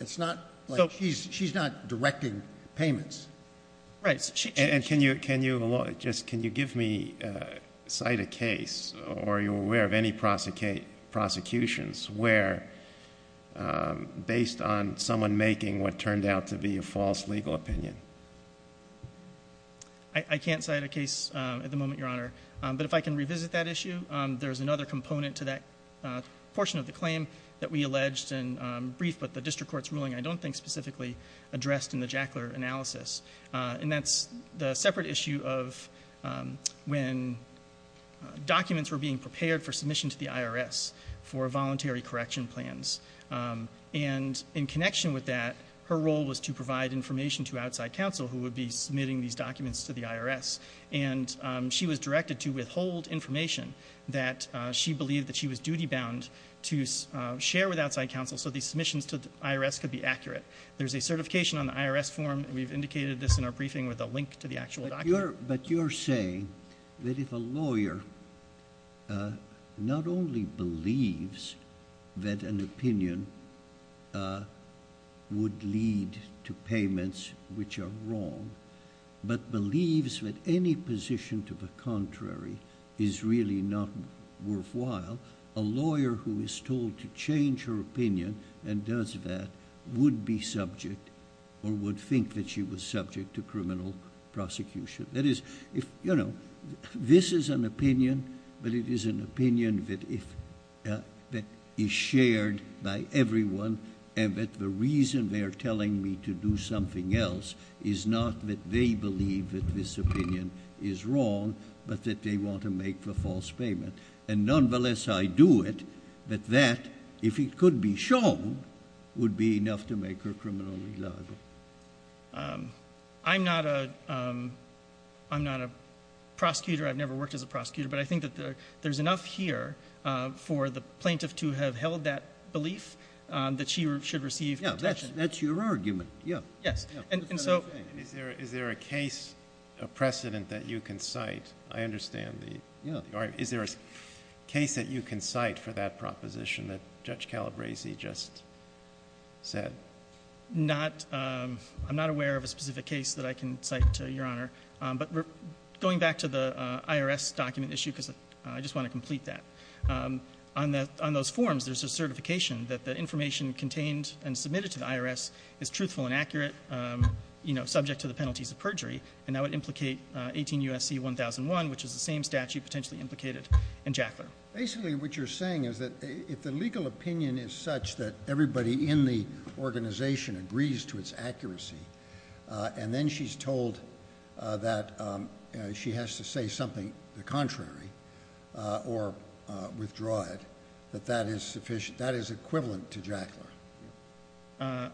It's not like... She's not directing payments. Right. And can you give me a cite a case or are you aware of any prosecutions where based on someone making what turned out to be a false legal opinion? I can't cite a case at the moment, Your Honor. But if I can revisit that issue, there's another component to that portion of the claim that we alleged and brief, but the district court's ruling, I don't think specifically addressed in the Jackler analysis. And that's the separate issue of when documents were being prepared for submission to the IRS for voluntary correction plans. And in connection with that, her role was to provide information to outside counsel who would be submitting these documents to the IRS. And she was directed to withhold information that she believed that she was duty-bound to share with outside counsel so these submissions to the IRS could be accurate. There's a certification on the IRS form. We've indicated this in our briefing with a link to the actual document. But you're saying that if a lawyer not only believes that an opinion would lead to payments which are wrong, but believes that any position to the contrary is really not worthwhile, a lawyer who is told to change her opinion and does that would be subject or would think that she was subject to criminal prosecution. That is, this is an opinion, but it is an opinion that is shared by everyone and that the reason they're telling me to do something else is not that they believe that this opinion is wrong, but that they want to make the false payment. And nonetheless, I do it, but that, if it could be shown, would be enough to make her criminally liable. I'm not a prosecutor. I've never worked as a prosecutor, but I think that there's enough here for the plaintiff to have held that belief that she should receive protection. Yeah, that's your argument. Yeah. Yes, and so... And is there a case, a precedent that you can cite? I understand the... Is there a case that you can cite for that proposition that Judge Calabresi just said? Not, I'm not aware of a specific case that I can cite, Your Honor, but going back to the IRS document issue, because I just want to complete that. On those forms, there's a certification that the information contained and submitted to the IRS is truthful and accurate, subject to the penalties of perjury, and that would implicate 18 U.S.C. 1001, which is the same statute potentially implicated in Jackler. Basically, what you're saying is that if the legal opinion is such that everybody in the organization agrees to its accuracy and then she's told that she has to say something contrary or withdraw it, that that is sufficient, that is equivalent to Jackler.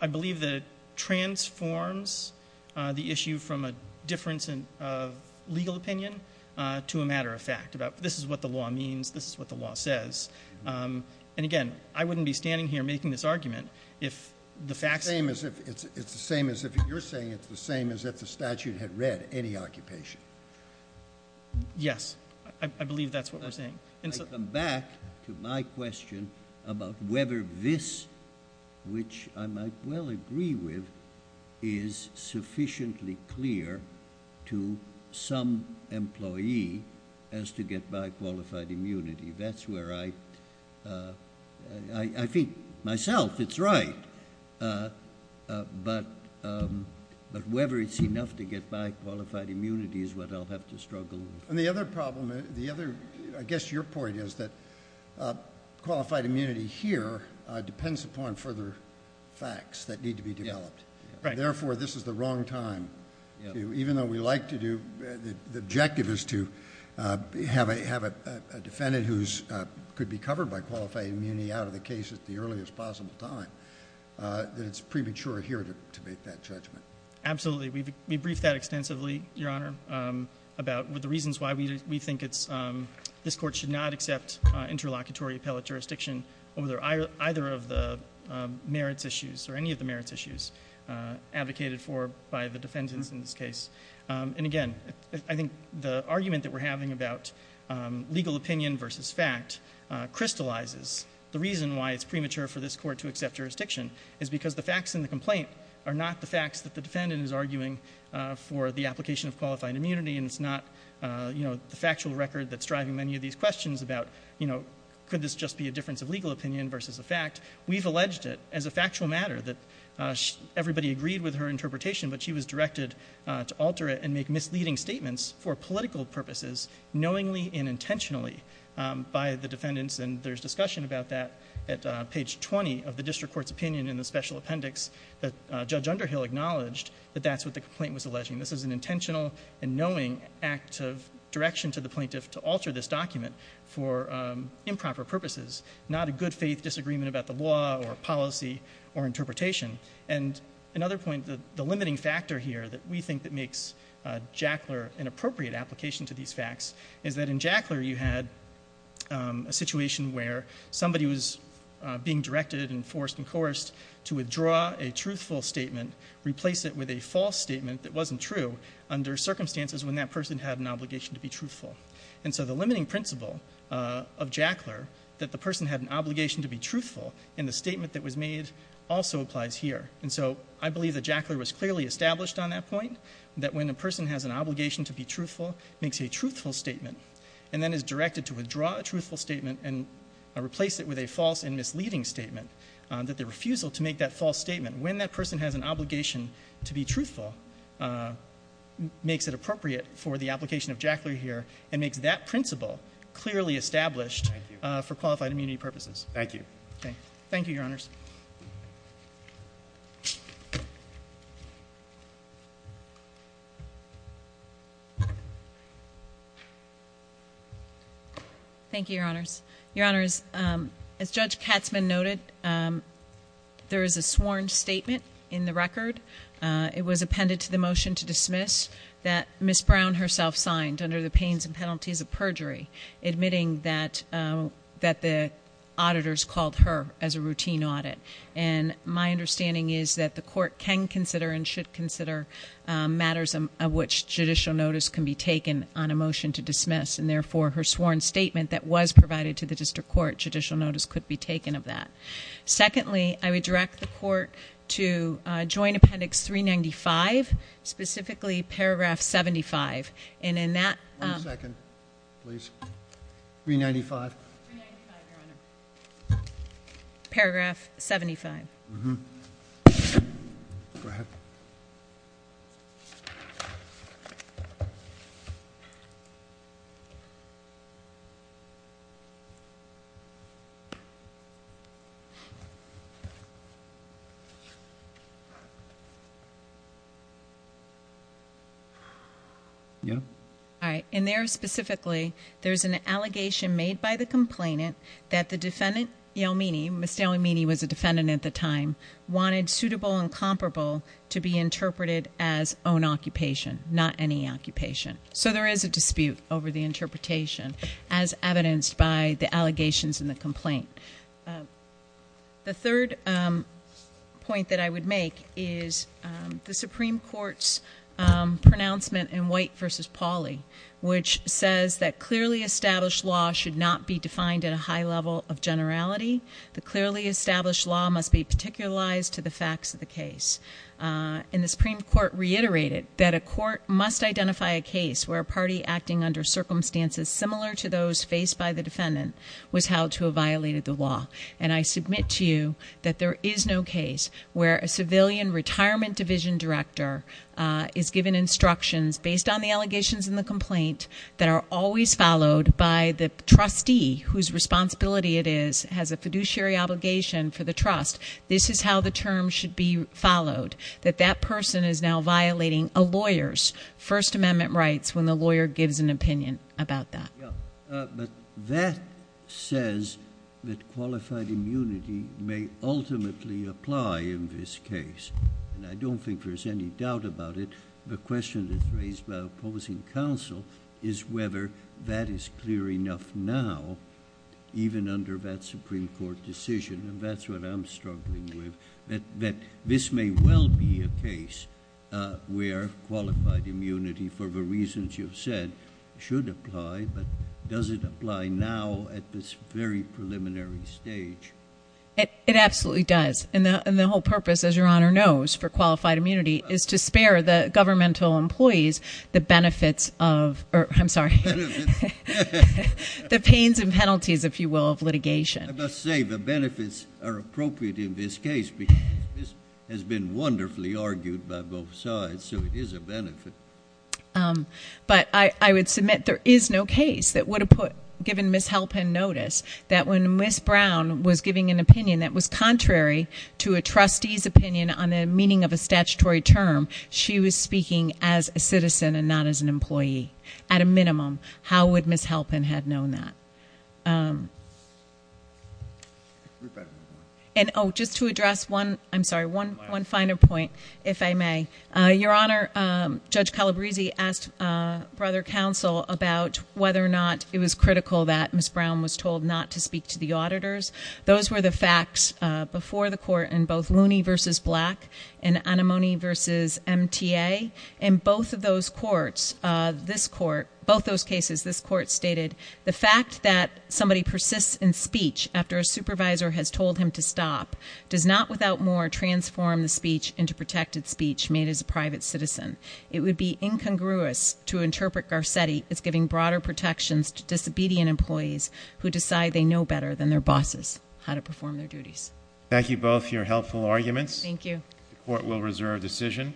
I believe that it transforms the issue from a difference of legal opinion to a matter of fact, about this is what the law means, this is what the law says. And again, I wouldn't be standing here making this argument if the facts... It's the same as if you're saying it's the same as if the statute had read any occupation. Yes, I believe that's what we're saying. I come back to my question about whether this, which I might well agree with, is sufficiently clear to some employee as to get bi-qualified immunity. That's where I think myself it's right. But whether it's enough to get bi-qualified immunity is what I'll have to struggle with. And the other problem, the other... I guess your point is that qualified immunity here depends upon further facts that need to be developed. Therefore, this is the wrong time. Even though we like to do... The objective is to have a defendant who could be covered by qualified immunity out of the case at the earliest possible time. That it's premature here to make that judgment. Absolutely. We briefed that extensively, Your Honor, about the reasons why we think this court should not accept interlocutory appellate jurisdiction over either of the merits issues or any of the merits issues advocated for by the defendants in this case. And again, I think the argument that we're having about legal opinion versus fact crystallizes the reason why it's premature for this court to accept jurisdiction is because the facts in the complaint are not the facts that the defendant is arguing for the application of qualified immunity and it's not the factual record that's driving many of these questions about could this just be a difference of legal opinion versus a fact? We've alleged it as a factual matter that everybody agreed with her interpretation but she was directed to alter it and make misleading statements for political purposes knowingly and intentionally by the defendants. And there's discussion about that at page 20 of the district court's opinion in the special appendix that Judge Underhill acknowledged that that's what the complaint was alleging. This is an intentional and knowing act of direction to the plaintiff to alter this document for improper purposes, not a good faith disagreement about the law or policy or interpretation. And another point, the limiting factor here that we think that makes Jackler an appropriate application to these facts is that in Jackler you had a situation where somebody was being directed and forced and coerced to withdraw a truthful statement, replace it with a false statement that wasn't true under circumstances when that person had an obligation to be truthful. And so the limiting principle of Jackler that the person had an obligation to be truthful in the statement that was made also applies here. And so I believe that Jackler was clearly established on that point that when a person has an obligation to be truthful makes a truthful statement and then is directed to withdraw a truthful statement and replace it with a false and misleading statement that the refusal to make that false statement when that person has an obligation to be truthful makes it appropriate for the application of Jackler here and makes that principle clearly established for qualified immunity purposes. Thank you. Okay. Thank you, Your Honors. Thank you, Your Honors. Your Honors, as Judge Katzmann noted, there is a sworn statement in the record. It was appended to the motion to dismiss that Ms. Brown herself signed under the pains and penalties of perjury admitting that the auditors called her as a routine audit. And my understanding is that the court can consider and should consider matters of which judicial notice can be taken on a motion to dismiss and therefore her sworn statement that was provided to the district court, judicial notice could be taken of that. Secondly, I would direct the court to join Appendix 395, specifically Paragraph 75. And in that- One second, please. 395. 395, Your Honor. Paragraph 75. Yeah. All right. And there specifically, there's an allegation made by the complainant that the defendant, Yelmini, Ms. Yelmini was a defendant at the time, wanted suitable and comparable to be interpreted as own occupation, not any occupation. So there is a dispute over the interpretation as evidenced by the allegations in the complaint. The third point that I would make is the Supreme Court's pronouncement in White v. Pauley, which says that clearly established law should not be defined at a high level of generality. The clearly established law must be particularized to the facts of the case. And the Supreme Court reiterated that a court must identify a case where a party acting under circumstances similar to those faced by the defendant was held to have violated the law. And I submit to you that there is no case where a civilian retirement division director is given instructions based on the allegations in the complaint that are always followed by the trustee whose responsibility it is, has a fiduciary obligation for the trust. This is how the term should be followed, that that person is now violating a lawyer's First Amendment rights when the lawyer gives an opinion about that. Yeah, but that says that qualified immunity may ultimately apply in this case. And I don't think there's any doubt about it. The question that's raised by opposing counsel is whether that is clear enough now, even under that Supreme Court decision. And that's what I'm struggling with, that this may well be a case where qualified immunity, for the reasons you've said, should apply. But does it apply now at this very preliminary stage? It absolutely does. And the whole purpose, as Your Honor knows, for qualified immunity is to spare the governmental employees the benefits of, or I'm sorry, the pains and penalties, if you will, of litigation. I must say the benefits are appropriate in this case because this has been wonderfully argued by both sides, so it is a benefit. But I would submit there is no case that would have given Ms. Halpin notice that when Ms. Brown was giving an opinion that was contrary to a trustee's opinion on the meaning of a statutory term, she was speaking as a citizen and not as an employee, at a minimum. How would Ms. Halpin had known that? And oh, just to address one, I'm sorry, one final point, if I may. Your Honor, Judge Calabresi asked Brother Counsel about whether or not it was critical that Ms. Brown was told not to speak to the auditors. Those were the facts before the court in both Looney v. Black and Anemone v. MTA. In both of those courts, this court, both those cases, this court stated the fact that somebody persists in speech after a supervisor has told him to stop does not, without more, transform the speech into protected speech made as a private citizen. It would be incongruous to interpret Garcetti as giving broader protections to disobedient employees who decide they know better than their bosses how to perform their duties. Thank you both for your helpful arguments. Thank you. The court will reserve decision.